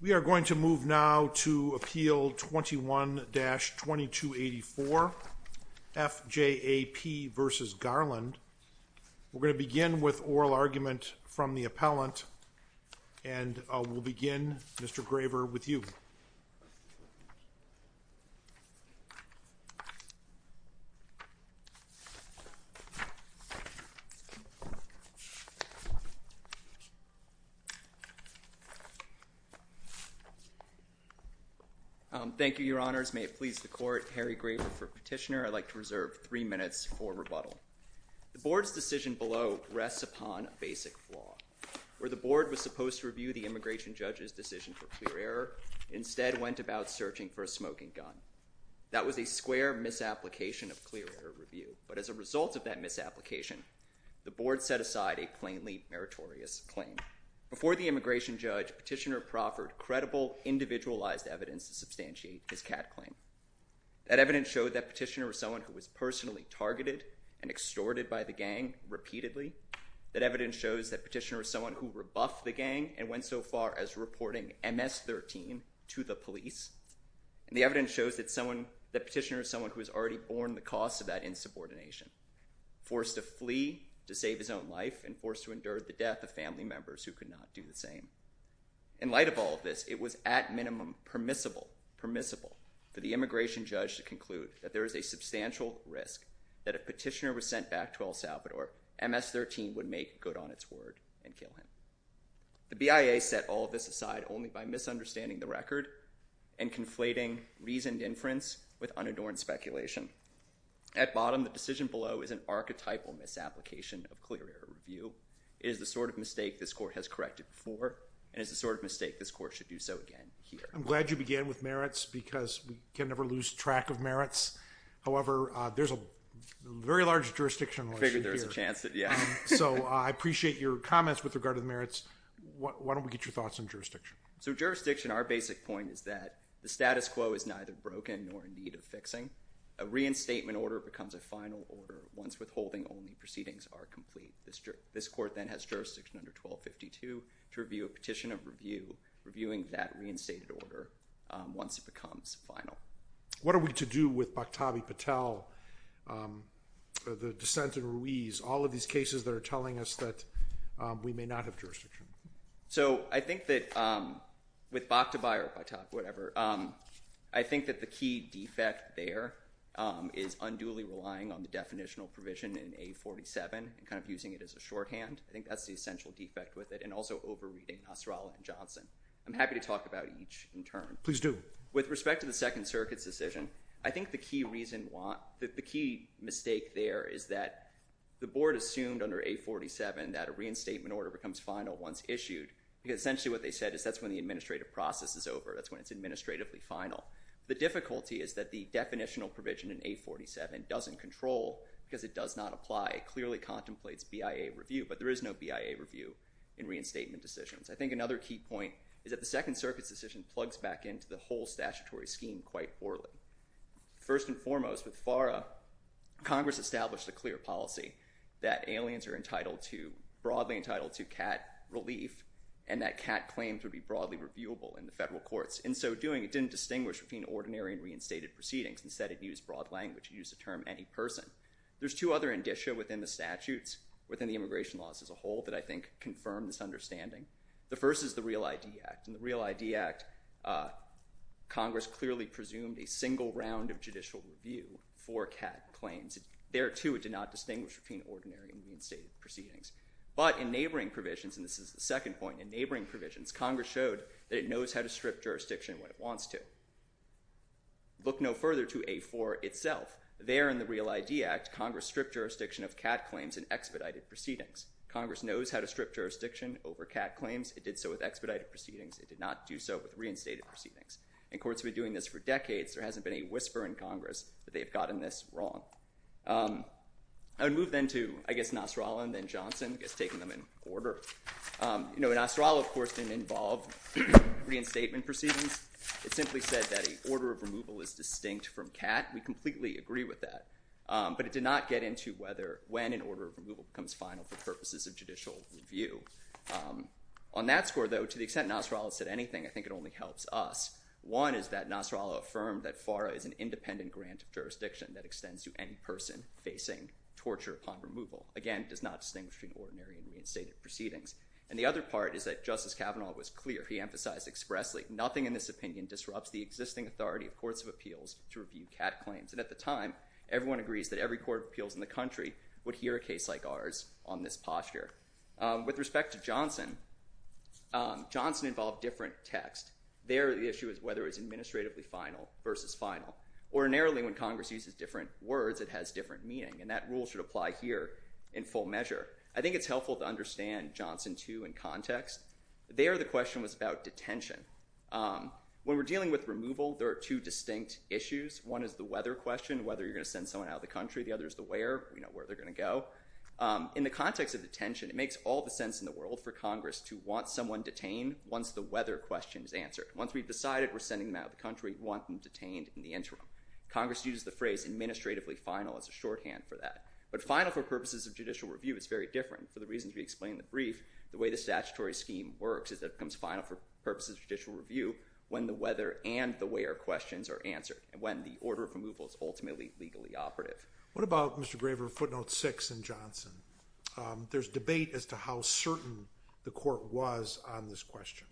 We are going to move now to Appeal 21-2284. F. J. A. P. v. Garland. We're going to begin with oral argument from the Appellant, and we'll begin, Mr. Graver, with you. Thank you, Your Honors. May it please the Court, Harry Graver for Petitioner. I'd like to reserve three minutes for rebuttal. The Board's decision below rests upon a basic flaw. Where the Board was supposed to review the Immigration Judge's decision for clear error, it instead went about searching for a smoking gun. That was a square misapplication of clear error review, but as a result of that misapplication, the Board set aside a plainly meritorious claim. Before the Immigration Judge, Petitioner proffered credible, individualized evidence to substantiate his CAD claim. That evidence showed that Petitioner was someone who was personally targeted and extorted by the gang repeatedly. That evidence shows that Petitioner was someone who rebuffed the gang and went so far as reporting MS-13 to the police. And the evidence shows that Petitioner was someone who was already borne the costs of that insubordination, forced to flee to save his own life and forced to endure the death of family members who could not do the same. In light of all of this, it was at minimum permissible, permissible, for the Immigration Judge to conclude that there is a substantial risk that if Petitioner was sent back to El Salvador, MS-13 would make good on its word and kill him. The BIA set all of this aside only by misunderstanding the record and conflating reasoned inference with unadorned speculation. At bottom, the decision below is an archetypal misapplication of clear error review. It is the sort of mistake this Court has corrected before, and it's the sort of mistake this Court should do so again here. I'm glad you began with merits because we can never lose track of merits. However, there's a very large jurisdictional issue here. I figured there was a chance that, yeah. So I appreciate your comments with regard to the merits. Why don't we get your thoughts on jurisdiction? So jurisdiction, our basic point is that the status quo is neither broken nor in need of fixing. A reinstatement order becomes a final order once withholding only to review a petition of review, reviewing that reinstated order once it becomes final. What are we to do with Bhaktabhi Patel, the dissent in Ruiz, all of these cases that are telling us that we may not have jurisdiction? So I think that with Bhaktabhi or whatever, I think that the key defect there is unduly relying on the definitional provision in A-47 and kind of using it as a shorthand. I think that's the essential defect with it. And also over-reading Nasrallah and Johnson. I'm happy to talk about each in turn. Please do. With respect to the Second Circuit's decision, I think the key reason why, the key mistake there is that the board assumed under A-47 that a reinstatement order becomes final once issued because essentially what they said is that's when the administrative process is over. That's when it's administratively final. The difficulty is that the definitional provision in A-47 doesn't control because it does not apply. It clearly contemplates BIA review. But there is no BIA review in reinstatement decisions. I think another key point is that the Second Circuit's decision plugs back into the whole statutory scheme quite poorly. First and foremost, with FARA, Congress established a clear policy that aliens are broadly entitled to cat relief and that cat claims would be broadly reviewable in the federal courts. In so doing, it didn't distinguish between ordinary and reinstated proceedings. Instead, it used broad language. It used the term any person. There's two other indicia within the statutes, within the immigration laws as a whole, that I think confirm this understanding. The first is the REAL ID Act. In the REAL ID Act, Congress clearly presumed a single round of judicial review for cat claims. There, too, it did not distinguish between ordinary and reinstated proceedings. But in neighboring provisions, and this is the second point, in neighboring provisions, Congress showed that it knows how to strip jurisdiction when it wants to. Look no further to A-4 itself. There in the REAL ID Act, Congress stripped jurisdiction of cat claims in expedited proceedings. Congress knows how to strip jurisdiction over cat claims. It did so with expedited proceedings. It did not do so with reinstated proceedings. And courts have been doing this for decades. There hasn't been a whisper in Congress that they've gotten this wrong. I would move then to, I guess, Nasrallah and then Johnson, I guess taking them in order. Nasrallah, of course, didn't involve reinstatement proceedings. It simply said that an order of removal is distinct from cat. We completely agree with that. But it did not get into when an order of removal becomes final for purposes of judicial review. On that score, though, to the extent Nasrallah said anything, I think it only helps us. One is that Nasrallah affirmed that FARA is an independent grant of jurisdiction that extends to any person facing torture upon removal. Again, it does not distinguish between ordinary and reinstated proceedings. And the other part is that Justice Kavanaugh was clear. He emphasized expressly, nothing in this opinion disrupts the existing authority of courts of appeals to review cat claims. And at the time, everyone agrees that every court of appeals in the country would hear a case like ours on this posture. With respect to Johnson, Johnson involved different text. There, the issue is whether it was administratively final versus final. Ordinarily, when Congress uses different words, it has different meaning. And that rule should apply here in full measure. I think it's helpful to understand Johnson, too, in context. There, the question was about detention. When we're dealing with removal, there are two distinct issues. One is the whether question, whether you're going to send someone out of the country. The other is the where. We know where they're going to go. In the context of detention, it makes all the sense in the world for Congress to want someone detained once the whether question is answered. Once we've decided we're sending them out of the country, we want them detained in the interim. Congress used the phrase administratively final as a shorthand for that. But final for purposes of judicial review is very different. For the reasons we explained in the brief, the way the statutory scheme works is that it becomes final for purposes of judicial review when the whether and the where questions are answered, and when the order of removal is ultimately legally operative. What about, Mr. Graver, footnote six in Johnson? There's debate as to how certain the court was on this question.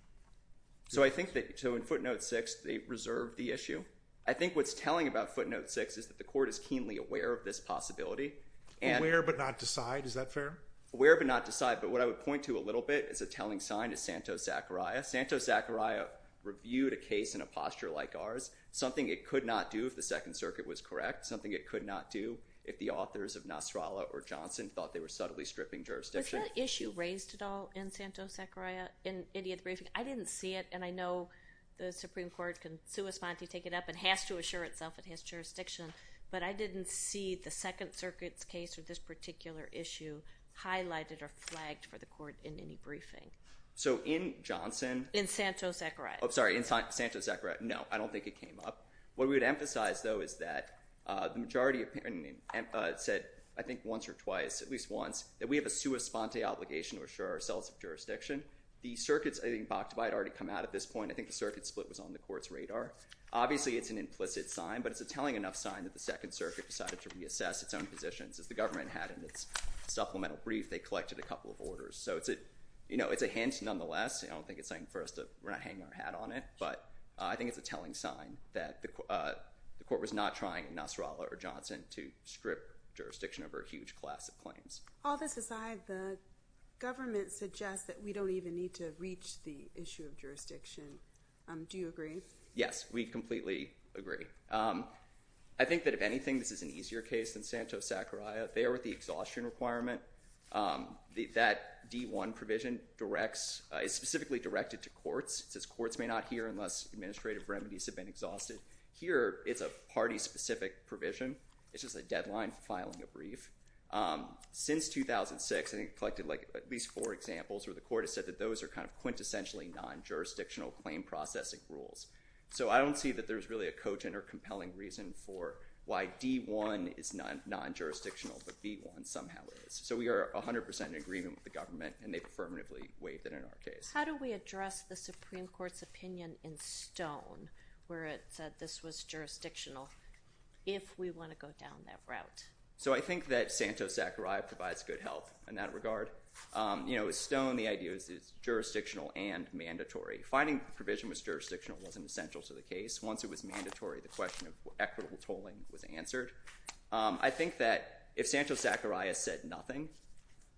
So I think that, so in footnote six, they reserved the issue. I think what's telling about footnote six is that the court is keenly aware of this possibility. Aware but not decide. Is that fair? Aware but not decide. But what I would point to a little bit is a telling sign to Santos-Zachariah. Santos-Zachariah reviewed a case in a posture like ours, something it could not do if the Second Circuit was correct, something it could not do if the authors of Nasrallah or Johnson thought they were subtly stripping jurisdiction. Was that issue raised at all in Santos-Zachariah in any of the briefings? I didn't see it, and I know the Supreme Court can sui sponte, take it up, and has to assure itself it has jurisdiction. But I didn't see the Second Circuit's case or this particular issue highlighted or flagged for the court in any briefing. So in Johnson- In Santos-Zachariah. Oh, sorry, in Santos-Zachariah. No, I don't think it came up. What we would emphasize, though, is that the majority said, I think once or twice, at least once, that we have a sui sponte obligation to assure ourselves of jurisdiction. The circuits, I think, Bakhtabai had already come out at this point. I think the circuit split was on the court's radar. Obviously, it's an implicit sign, but it's a telling enough sign that the Second Circuit decided to reassess its own positions. As the government had in its supplemental brief, they collected a couple of orders. So it's a hint, nonetheless. I don't think it's something for us to- we're not hanging our hat on it, but I think it's a telling sign that the court was not trying in Nasrallah or Johnson to strip jurisdiction over a huge class of claims. All this aside, the government suggests that we don't even need to reach the issue of jurisdiction. Do you agree? Yes, we completely agree. I think that, if anything, this is an easier case than Santos-Sacaraia. They are with the exhaustion requirement. That D1 provision is specifically directed to courts. It says courts may not hear unless administrative remedies have been exhausted. Here it's a party-specific provision. It's just a deadline for filing a brief. Since 2006, I think it collected at least four examples where the court has said that those are quintessentially non-jurisdictional claim processing rules. So I don't see that there's really a cogent or compelling reason for why D1 is non-jurisdictional, but B1 somehow is. So we are 100% in agreement with the government, and they affirmatively waived it in our case. How do we address the Supreme Court's opinion in Stone, where it said this was jurisdictional, if we want to go down that route? So I think that Santos-Sacaraia provides good help in that regard. You know, with Stone, the idea is it's jurisdictional and mandatory. Finding the provision was jurisdictional wasn't essential to the case. Once it was mandatory, the question of equitable tolling was answered. I think that if Santos-Sacaraia said nothing,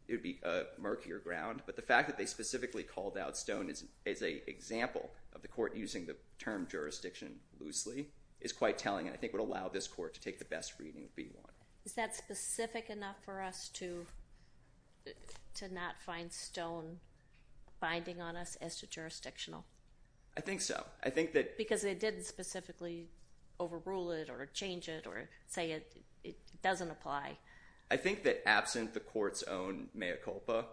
it would be a murkier ground. But the fact that they specifically called out Stone as an example of the court using the term jurisdiction loosely is quite telling, and I think would allow this court to take the best reading of B1. Is that specific enough for us to not find Stone binding on us as to jurisdictional? I think so. I think that... Because they didn't specifically overrule it or change it or say it doesn't apply. I think that absent the court's own mea culpa,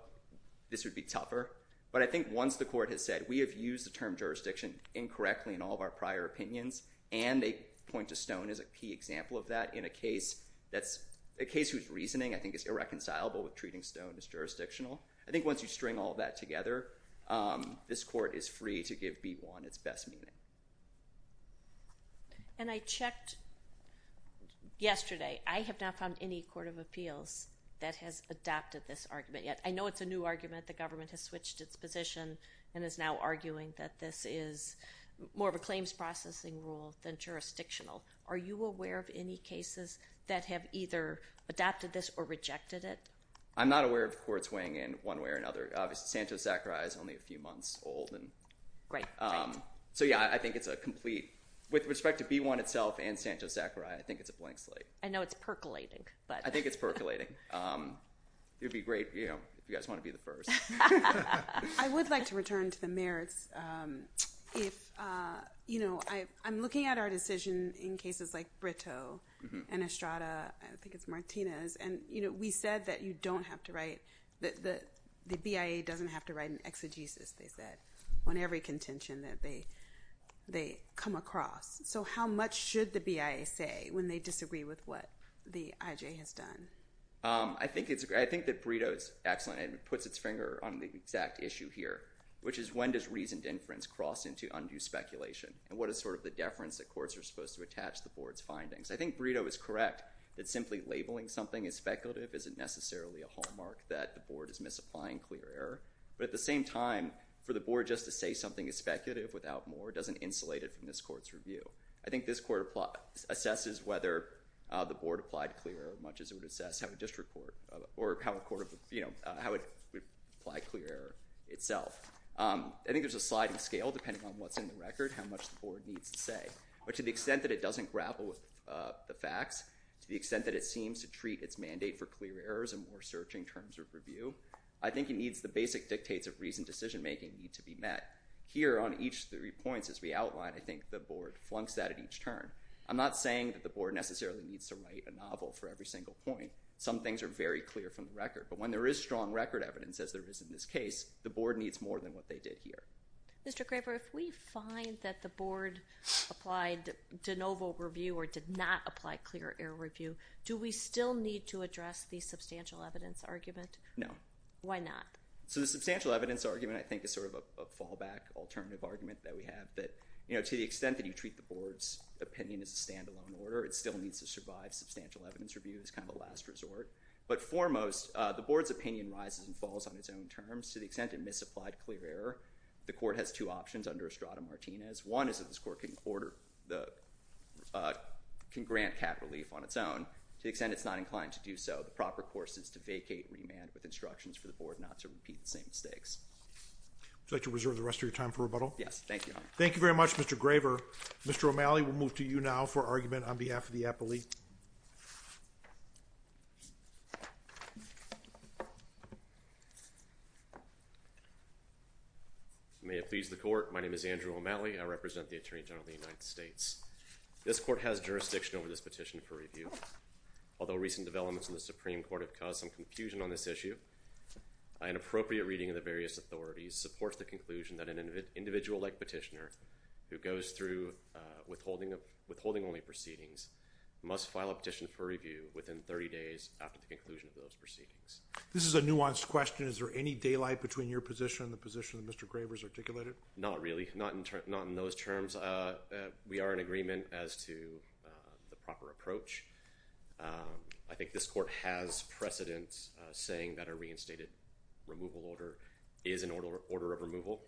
this would be tougher. But I think once the court has said, we have used the term jurisdiction incorrectly in all of our prior opinions, and they point to Stone as a key example of that in a case whose reasoning I think is irreconcilable with treating Stone as jurisdictional, I think once you string all that together, this court is free to give B1 its best meaning. And I checked yesterday. I have not found any court of appeals that has adopted this argument yet. I know it's a new argument. The government has switched its position and is now arguing that this is more of a claims processing rule than jurisdictional. Are you aware of any cases that have either adopted this or rejected it? I'm not aware of courts weighing in one way or another. Obviously, Sancho Zachariah is only a few months old. Great. So yeah, I think it's a complete... With respect to B1 itself and Sancho Zachariah, I think it's a blank slate. I know it's percolating. I think it's percolating. It would be great if you guys want to be the first. I would like to return to the merits. I'm looking at our decision in cases like Brito and Estrada, I think it's Martinez, and we said that you don't have to write... The BIA doesn't have to write an exegesis, they said, on every contention that they come across. So how much should the BIA say when they disagree with what the IJ has done? I think that Brito is excellent and puts its finger on the exact issue here, which is when does reasoned inference cross into undue speculation, and what is sort of the deference that courts are supposed to attach to the board's findings? I think Brito is correct that simply labeling something as speculative isn't necessarily a hallmark that the board is misapplying clear error, but at the same time, for the board just to say something is speculative without more doesn't insulate it from this court's review. I think this court assesses whether the board applied clear error as much as it would assess how a district court, or how a court would apply clear error itself. I think there's a sliding scale depending on what's in the record, how much the board needs to say. But to the extent that it doesn't grapple with the facts, to the extent that it seems to treat its mandate for clear errors in more searching terms of review, I think it needs the basic dictates of reasoned decision making need to be met. Here on each three points as we outlined, I think the board flunks that at each turn. I'm not saying that the board necessarily needs to write a novel for every single point. Some things are very clear from the record, but when there is strong record evidence as there is in this case, the board needs more than what they did here. Mr. Craver, if we find that the board applied de novo review or did not apply clear error review, do we still need to address the substantial evidence argument? No. Why not? So the substantial evidence argument, I think, is sort of a fallback alternative argument that we have. That to the extent that you treat the board's opinion as a standalone order, it still needs to survive substantial evidence review as kind of a last resort. But foremost, the board's opinion rises and falls on its own terms. To the extent it misapplied clear error, the court has two options under Estrada-Martinez. One is that this court can grant cap relief on its own. To the extent it's not inclined to do so, the proper course is to vacate remand with the board and repeat the same mistakes. Would you like to reserve the rest of your time for rebuttal? Thank you, Your Honor. Thank you very much, Mr. Craver. Mr. O'Malley, we'll move to you now for argument on behalf of the appellee. May it please the court. My name is Andrew O'Malley. I represent the Attorney General of the United States. This court has jurisdiction over this petition for review. Although recent developments in the Supreme Court have caused some confusion on this issue, an appropriate reading of the various authorities supports the conclusion that an individual-like petitioner who goes through withholding-only proceedings must file a petition for review within 30 days after the conclusion of those proceedings. This is a nuanced question. Is there any daylight between your position and the position that Mr. Craver has articulated? Not really. Not in those terms. We are in agreement as to the proper approach. I think this court has precedent saying that a reinstated removal order is an order of removal,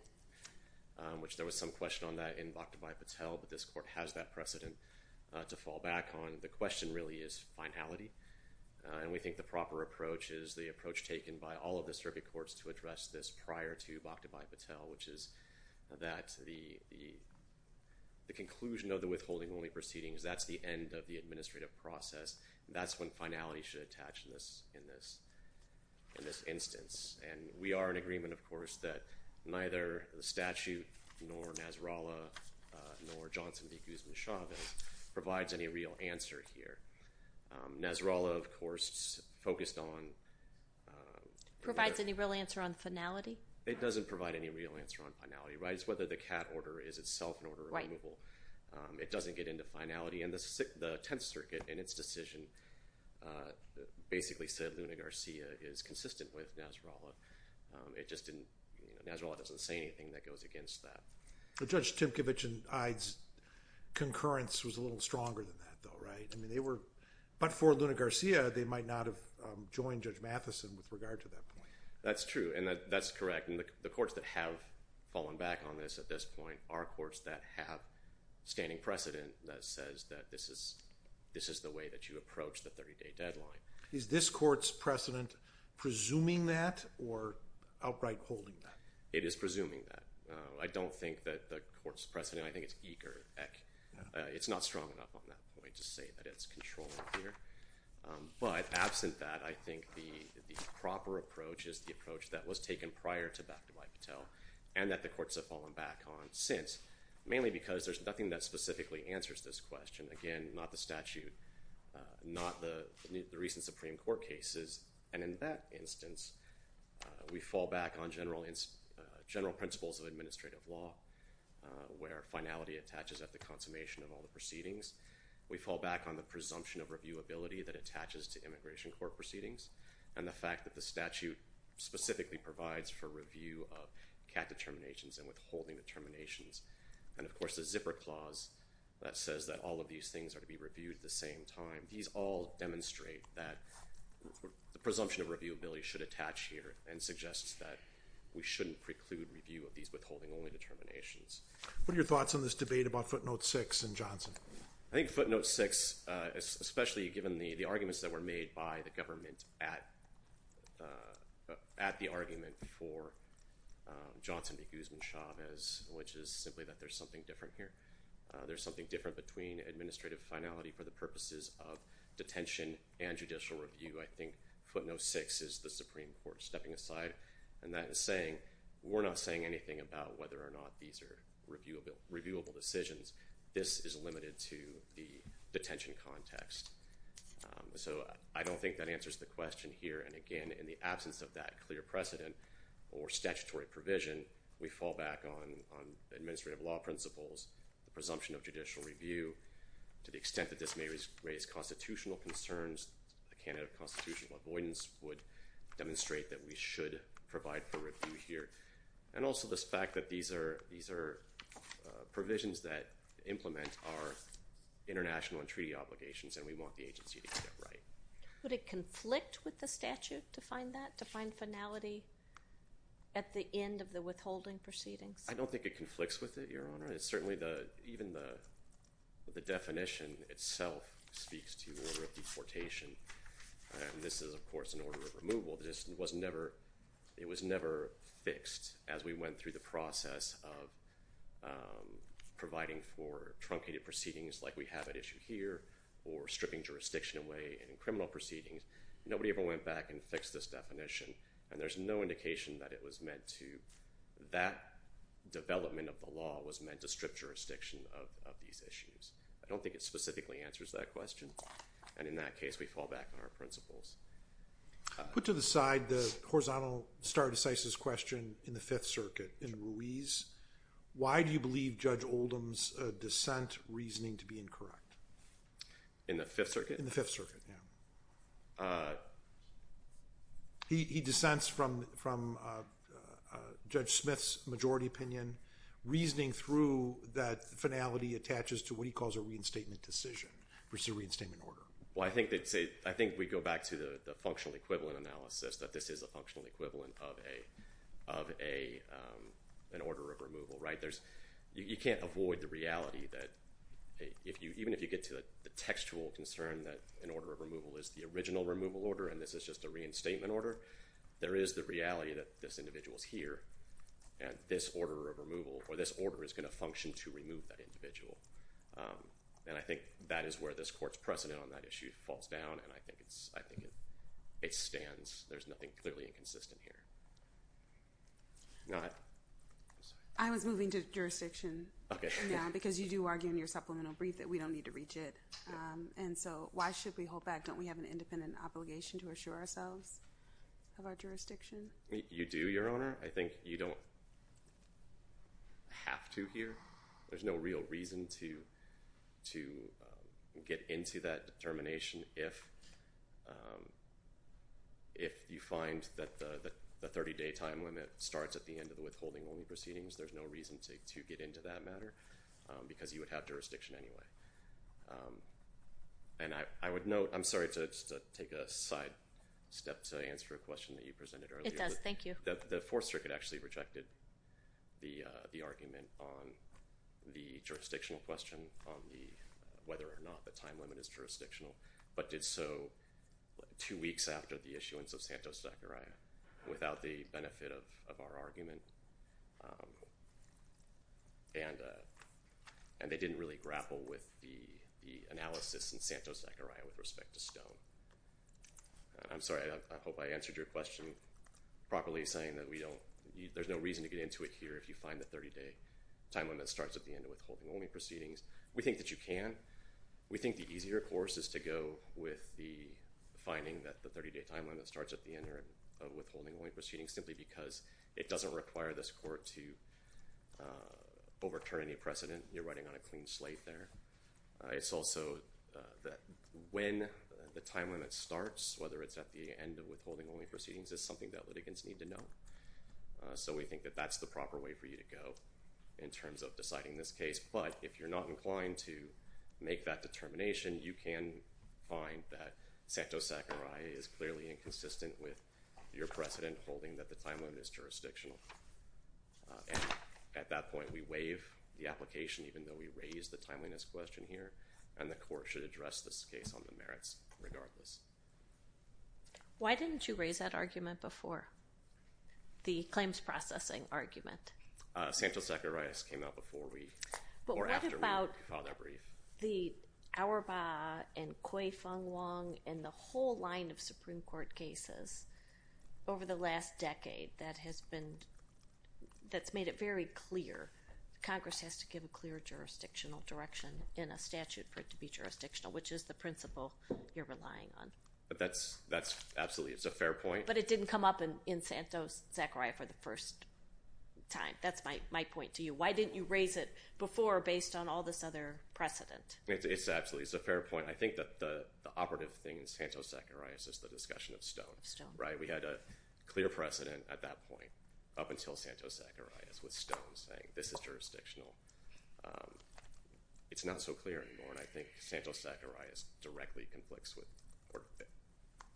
which there was some question on that in Bhaktabhai Patel, but this court has that precedent to fall back on. The question really is finality, and we think the proper approach is the approach taken by all of the circuit courts to address this prior to Bhaktabhai Patel, which is that the process, that's when finality should attach in this instance. We are in agreement, of course, that neither the statute nor Nasrallah nor Johnson v. Guzman-Chavez provides any real answer here. Nasrallah, of course, focused on— Provides any real answer on finality? It doesn't provide any real answer on finality. It's whether the CAT order is itself an order of removal. It doesn't get into finality. The Tenth Circuit, in its decision, basically said Luna Garcia is consistent with Nasrallah. It just didn't—Nasrallah doesn't say anything that goes against that. Judge Timkevich and Ide's concurrence was a little stronger than that, though, right? But for Luna Garcia, they might not have joined Judge Matheson with regard to that point. That's true, and that's correct. The courts that have fallen back on this at this point are courts that have standing precedent that says that this is the way that you approach the 30-day deadline. Is this court's precedent presuming that or outright holding that? It is presuming that. I don't think that the court's precedent—I think it's eager. It's not strong enough on that point to say that it's controlling here. But absent that, I think the proper approach is the approach that was taken prior to Bakhtabai Patel and that the courts have fallen back on since, mainly because there's nothing that specifically answers this question. Again, not the statute, not the recent Supreme Court cases. And in that instance, we fall back on general principles of administrative law where finality attaches at the consummation of all the proceedings. We fall back on the presumption of reviewability that attaches to immigration court proceedings and the fact that the statute specifically provides for review of CAT determinations and withholding determinations. And of course, the zipper clause that says that all of these things are to be reviewed at the same time. These all demonstrate that the presumption of reviewability should attach here and suggests that we shouldn't preclude review of these withholding-only determinations. What are your thoughts on this debate about footnote 6 in Johnson? I think footnote 6, especially given the arguments that were made by the government at the argument for Johnson v. Guzman-Chavez, which is simply that there's something different here. There's something different between administrative finality for the purposes of detention and judicial review. I think footnote 6 is the Supreme Court stepping aside and that is saying, we're not saying anything about whether or not these are reviewable decisions. This is limited to the detention context. So I don't think that answers the question here, and again, in the absence of that clear precedent or statutory provision, we fall back on administrative law principles, the presumption of judicial review. To the extent that this may raise constitutional concerns, a candidate of constitutional avoidance would demonstrate that we should provide for review here. And also this fact that these are provisions that implement our international and treaty obligations and we want the agency to get it right. Would it conflict with the statute to find that, to find finality at the end of the withholding proceedings? I don't think it conflicts with it, Your Honor. It's certainly the, even the definition itself speaks to order of deportation. This is, of course, an order of removal. It was never fixed as we went through the process of providing for truncated proceedings like we have at issue here or stripping jurisdiction away in criminal proceedings. Nobody ever went back and fixed this definition, and there's no indication that it was meant to, that development of the law was meant to strip jurisdiction of these issues. I don't think it specifically answers that question, and in that case, we fall back on our principles. Put to the side the horizontal stare decisis question in the Fifth Circuit in Ruiz. Why do you believe Judge Oldham's dissent reasoning to be incorrect? In the Fifth Circuit? In the Fifth Circuit, yeah. He dissents from Judge Smith's majority opinion, reasoning through that finality attaches to what he calls a reinstatement decision, which is a reinstatement order. Well, I think they'd say, I think we'd go back to the functional equivalent analysis that this is a functional equivalent of an order of removal, right? You can't avoid the reality that even if you get to the textual concern that an order of removal is the original removal order and this is just a reinstatement order, there is the reality that this individual's here, and this order of removal, or this order is going to function to remove that individual, and I think that is where this Court's precedent on that issue falls down, and I think it stands. There's nothing clearly inconsistent here. I was moving to jurisdiction now because you do argue in your supplemental brief that we don't need to reach it, and so why should we hold back? Don't we have an independent obligation to assure ourselves of our jurisdiction? You do, Your Honor. I think you don't have to here. There's no real reason to get into that determination if you find that the 30-day time limit starts at the end of the withholding-only proceedings. There's no reason to get into that matter because you would have jurisdiction anyway, and I would note, I'm sorry to take a side step to answer a question that you presented earlier. It does. Thank you. The Fourth Circuit actually rejected the argument on the jurisdictional question on whether or not the time limit is jurisdictional, but did so two weeks after the issuance of Santos-Zachariah without the benefit of our argument, and they didn't really grapple with the analysis in Santos-Zachariah with respect to Stone. I'm sorry. I hope I answered your question properly, saying that there's no reason to get into it here if you find the 30-day time limit starts at the end of withholding-only proceedings. We think that you can. We think the easier course is to go with the finding that the 30-day time limit starts at the end of withholding-only proceedings simply because it doesn't require this Court to overturn any precedent. You're writing on a clean slate there. It's also that when the time limit starts, whether it's at the end of withholding-only proceedings, is something that litigants need to know. So we think that that's the proper way for you to go in terms of deciding this case. But if you're not inclined to make that determination, you can find that Santos-Zachariah is clearly inconsistent with your precedent holding that the time limit is jurisdictional. At that point, we waive the application even though we raise the timeliness question here, and the Court should address this case on the merits regardless. Why didn't you raise that argument before? The claims processing argument. Santos-Zachariah came out before we or after we filed that brief. The Auerbach and Kui-Fung Wong and the whole line of Supreme Court cases over the last decade that has been, that's made it very clear, Congress has to give a clear jurisdictional direction in a statute for it to be jurisdictional, which is the principle you're relying on. That's absolutely, it's a fair point. But it didn't come up in Santos-Zachariah for the first time. That's my point to you. Why didn't you raise it before based on all this other precedent? It's absolutely, it's a fair point. I think that the operative thing in Santos-Zachariah is just the discussion of Stone, right? We had a clear precedent at that point, up until Santos-Zachariah, with Stone saying this is jurisdictional. It's not so clear anymore. And I think Santos-Zachariah directly conflicts with or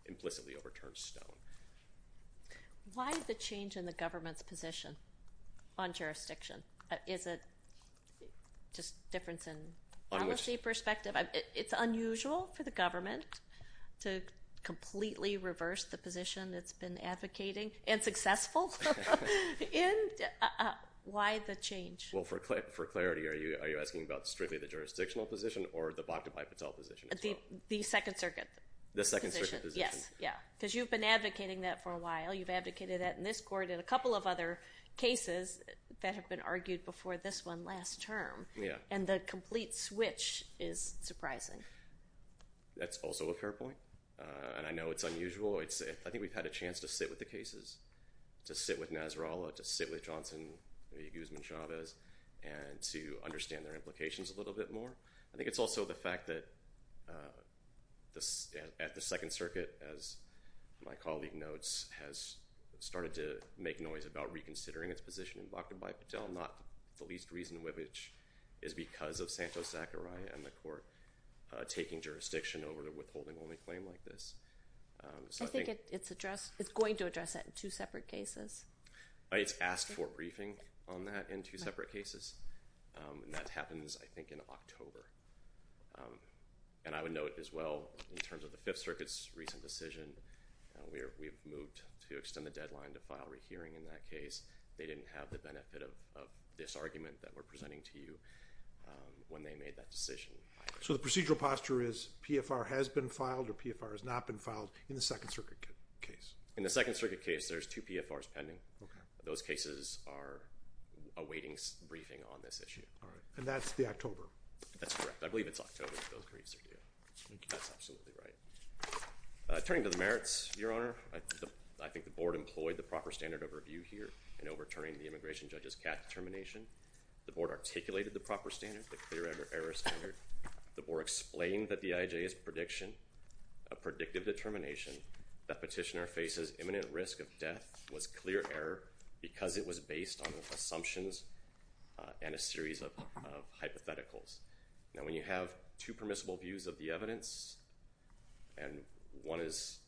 implicitly overturns Stone. Why the change in the government's position on jurisdiction? Is it just difference in policy perspective? It's unusual for the government to completely reverse the position it's been advocating and successful in. Why the change? Well, for clarity, are you asking about strictly the jurisdictional position or the Bhakta Bhai Patel position as well? The Second Circuit. The Second Circuit position. Yes, yeah. Because you've been advocating that for a while. You've advocated that in this court and a couple of other cases that have been argued before this one last term. And the complete switch is surprising. That's also a fair point. And I know it's unusual. I think we've had a chance to sit with the cases, to sit with Nasrallah, to sit with Johnson v. Guzman Chavez, and to understand their implications a little bit more. I think it's also the fact that at the Second Circuit, as my colleague notes, has started to make noise about reconsidering its position in Bhakta Bhai Patel, not the least reason which is because of Santos-Zachariah and the court taking jurisdiction over the withholding-only claim like this. I think it's addressed, it's going to address that in two separate cases. It's asked for briefing on that in two separate cases. And that happens, I think, in October. And I would note as well, in terms of the Fifth Circuit's recent decision, we've moved to extend the deadline to file a rehearing in that case. They didn't have the benefit of this argument that we're presenting to you when they made that decision. So the procedural posture is PFR has been filed or PFR has not been filed in the Second Circuit case? In the Second Circuit case, there's two PFRs pending. Those cases are awaiting briefing on this issue. All right. And that's the October? That's correct. I believe it's October that those briefs are due. Thank you. That's absolutely right. Turning to the merits, Your Honor, I think the board employed the proper standard of in overturning the immigration judge's CAT determination. The board articulated the proper standard, the clear error standard. The board explained that the IJA's prediction, a predictive determination that petitioner faces imminent risk of death was clear error because it was based on assumptions and a series of hypotheticals. Now, when you have two permissible views of the evidence and one is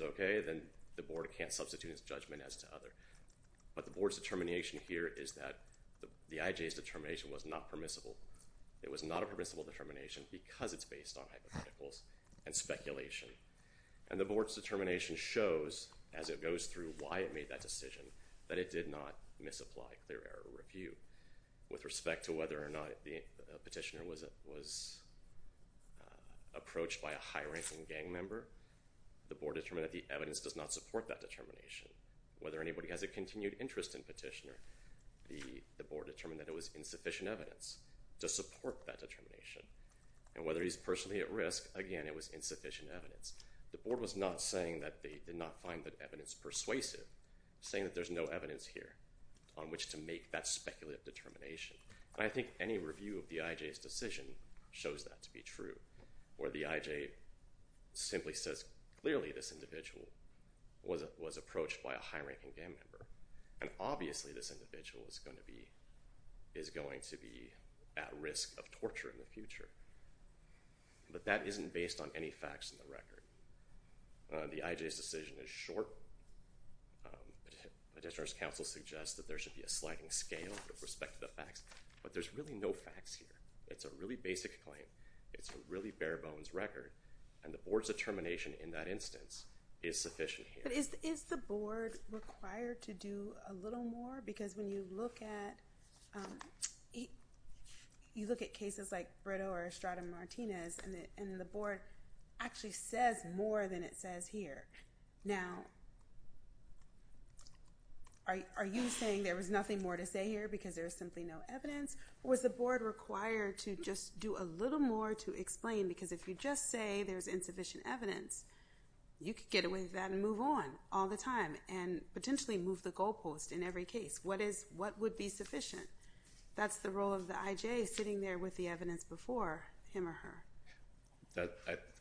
okay, then the board can't substitute its judgment as to other. But the board's determination here is that the IJA's determination was not permissible. It was not a permissible determination because it's based on hypotheticals and speculation. And the board's determination shows, as it goes through why it made that decision, that it did not misapply clear error review. With respect to whether or not the petitioner was approached by a high-ranking gang member, the board determined that the evidence does not support that determination. Whether anybody has a continued interest in petitioner, the board determined that it was insufficient evidence to support that determination. And whether he's personally at risk, again, it was insufficient evidence. The board was not saying that they did not find that evidence persuasive, saying that there's no evidence here on which to make that speculative determination. And I think any review of the IJA's decision shows that to be true, where the IJA simply says clearly this individual was approached by a high-ranking gang member, and obviously this individual is going to be at risk of torture in the future. But that isn't based on any facts in the record. The IJA's decision is short, the petitioner's counsel suggests that there should be a sliding scale with respect to the facts, but there's really no facts here. It's a really basic claim. It's a really bare-bones record, and the board's determination in that instance is sufficient here. But is the board required to do a little more? Because when you look at, you look at cases like Brito or Estrada Martinez, and the board actually says more than it says here. Now, are you saying there was nothing more to say here because there's simply no evidence? Or was the board required to just do a little more to explain? Because if you just say there's insufficient evidence, you could get away with that and move on all the time, and potentially move the goalpost in every case. What is, what would be sufficient? That's the role of the IJA sitting there with the evidence before him or her.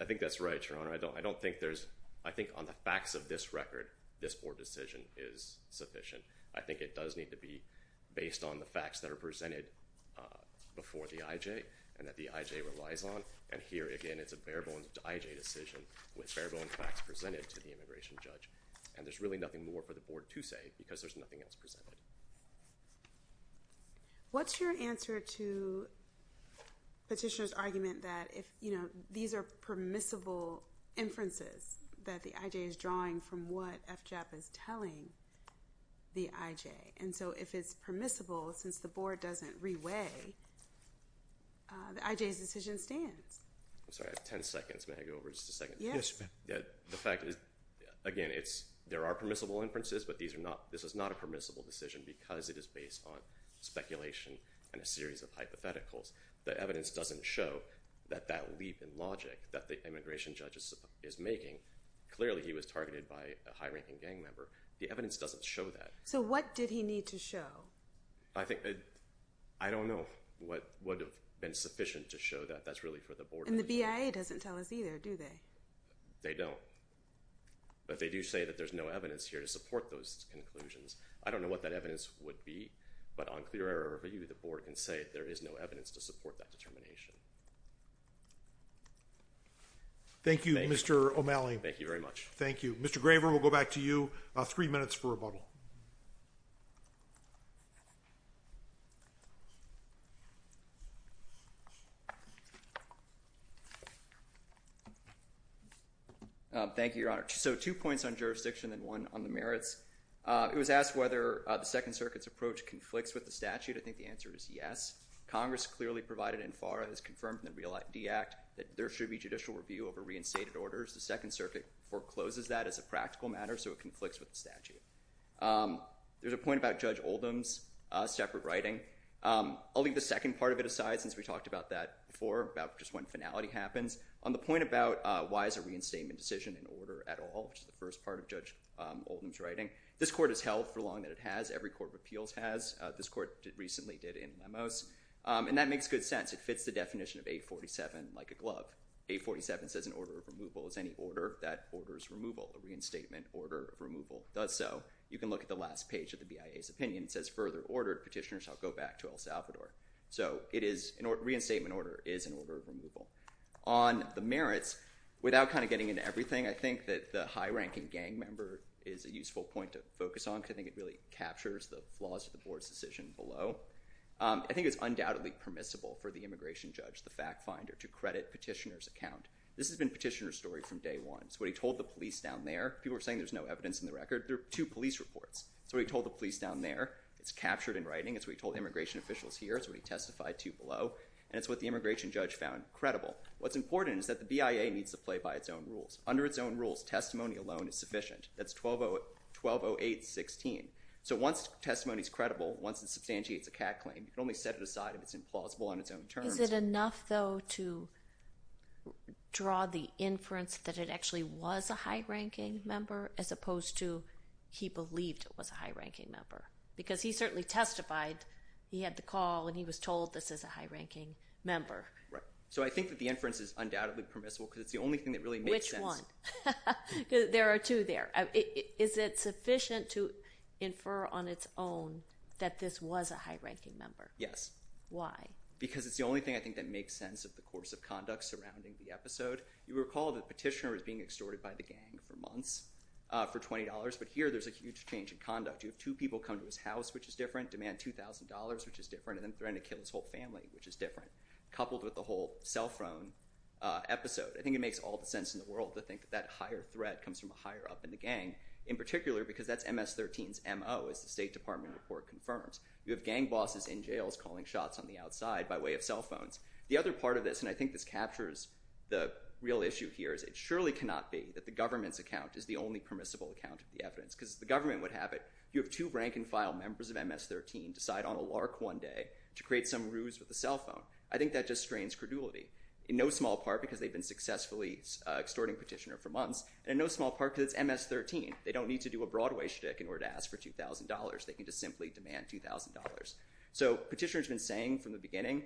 I think that's right, Your Honor. I don't think there's, I think on the facts of this record, this board decision is sufficient. I think it does need to be based on the facts that are presented before the IJA and that the IJA relies on, and here, again, it's a bare-bones IJA decision with bare-bones facts presented to the immigration judge, and there's really nothing more for the board to say because there's nothing else presented. What's your answer to Petitioner's argument that if, you know, these are permissible inferences that the IJA is drawing from what FJAP is telling the IJA? And so if it's permissible, since the board doesn't re-weigh, the IJA's decision stands. I'm sorry, I have 10 seconds. May I go over just a second? Yes. Yes, ma'am. The fact is, again, it's, there are permissible inferences, but these are not, this is not a permissible decision because it is based on speculation and a series of hypotheticals. The evidence doesn't show that that leap in logic that the immigration judge is making, clearly he was targeted by a high-ranking gang member. The evidence doesn't show that. So what did he need to show? I think, I don't know what would have been sufficient to show that that's really for the board. And the BIA doesn't tell us either, do they? They don't. But they do say that there's no evidence here to support those conclusions. I don't know what that evidence would be, but on clear error of view, the board can say there is no evidence to support that determination. Thank you, Mr. O'Malley. Thank you very much. Thank you. Mr. Graver, we'll go back to you. Three minutes for rebuttal. Thank you, Your Honor. So two points on jurisdiction and one on the merits. It was asked whether the Second Circuit's approach conflicts with the statute. I think the answer is yes. Congress clearly provided in FARA has confirmed in the Real ID Act that there should be judicial review over reinstated orders. The Second Circuit forecloses that as a practical matter, so it conflicts with the statute. There's a point about Judge Oldham's separate writing. I'll leave the second part of it aside, since we talked about that before, about just when finality happens, on the point about why is a reinstatement decision in order at all, which is the first part of Judge Oldham's writing. This court has held for long that it has. Every court of appeals has. This court recently did in Lemos. And that makes good sense. It fits the definition of 847 like a glove. 847 says an order of removal is any order that orders removal, a reinstatement order of removal. It does so. You can look at the last page of the BIA's opinion. It says, further order, petitioners shall go back to El Salvador. So it is, reinstatement order is an order of removal. On the merits, without kind of getting into everything, I think that the high-ranking gang member is a useful point to focus on, because I think it really captures the flaws of the board's decision below. I think it's undoubtedly permissible for the immigration judge, the fact finder, to credit a petitioner's account. This has been a petitioner's story from day one. So what he told the police down there, people were saying there's no evidence in the record. There are two police reports. That's what he told the police down there. It's captured in writing. It's what he told immigration officials here. It's what he testified to below. And it's what the immigration judge found credible. What's important is that the BIA needs to play by its own rules. Under its own rules, testimony alone is sufficient. That's 1208.16. So once testimony's credible, once it substantiates a cat claim, you can only set it aside if it's implausible on its own terms. Is it enough, though, to draw the inference that it actually was a high-ranking member as opposed to he believed it was a high-ranking member? Because he certainly testified he had the call, and he was told this is a high-ranking member. Right. So I think that the inference is undoubtedly permissible, because it's the only thing that really makes sense. Which one? Because there are two there. Is it sufficient to infer on its own that this was a high-ranking member? Yes. Why? Because it's the only thing, I think, that makes sense of the course of conduct surrounding the episode. You recall that Petitioner was being extorted by the gang for months for $20, but here there's a huge change in conduct. You have two people come to his house, which is different, demand $2,000, which is different, and then threaten to kill his whole family, which is different, coupled with the whole cell phone episode. I think it makes all the sense in the world to think that that higher threat comes from a higher up in the gang, in particular because that's MS-13's MO, as the State Department report confirms. You have gang bosses in jails calling shots on the outside by way of cell phones. The other part of this, and I think this captures the real issue here, is it surely cannot be that the government's account is the only permissible account of the evidence, because the government would have it. You have two rank-and-file members of MS-13 decide on a lark one day to create some ruse with a cell phone. I think that just strains credulity, in no small part because they've been successfully extorting Petitioner for months, and in no small part because it's MS-13. They don't need to do a Broadway shtick in order to ask for $2,000. They can just simply demand $2,000. So Petitioner's been saying from the beginning,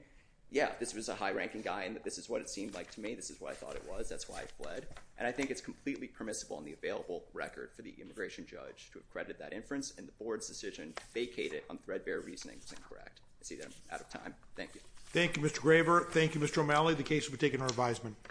yeah, this was a high-ranking guy, and this is what it seemed like to me. This is what I thought it was. That's why I fled. And I think it's completely permissible on the available record for the immigration judge to accredit that inference, and the board's decision to vacate it on threadbare reasoning is incorrect. I see that I'm out of time. Thank you. Thank you, Mr. Graber. Thank you, Mr. O'Malley.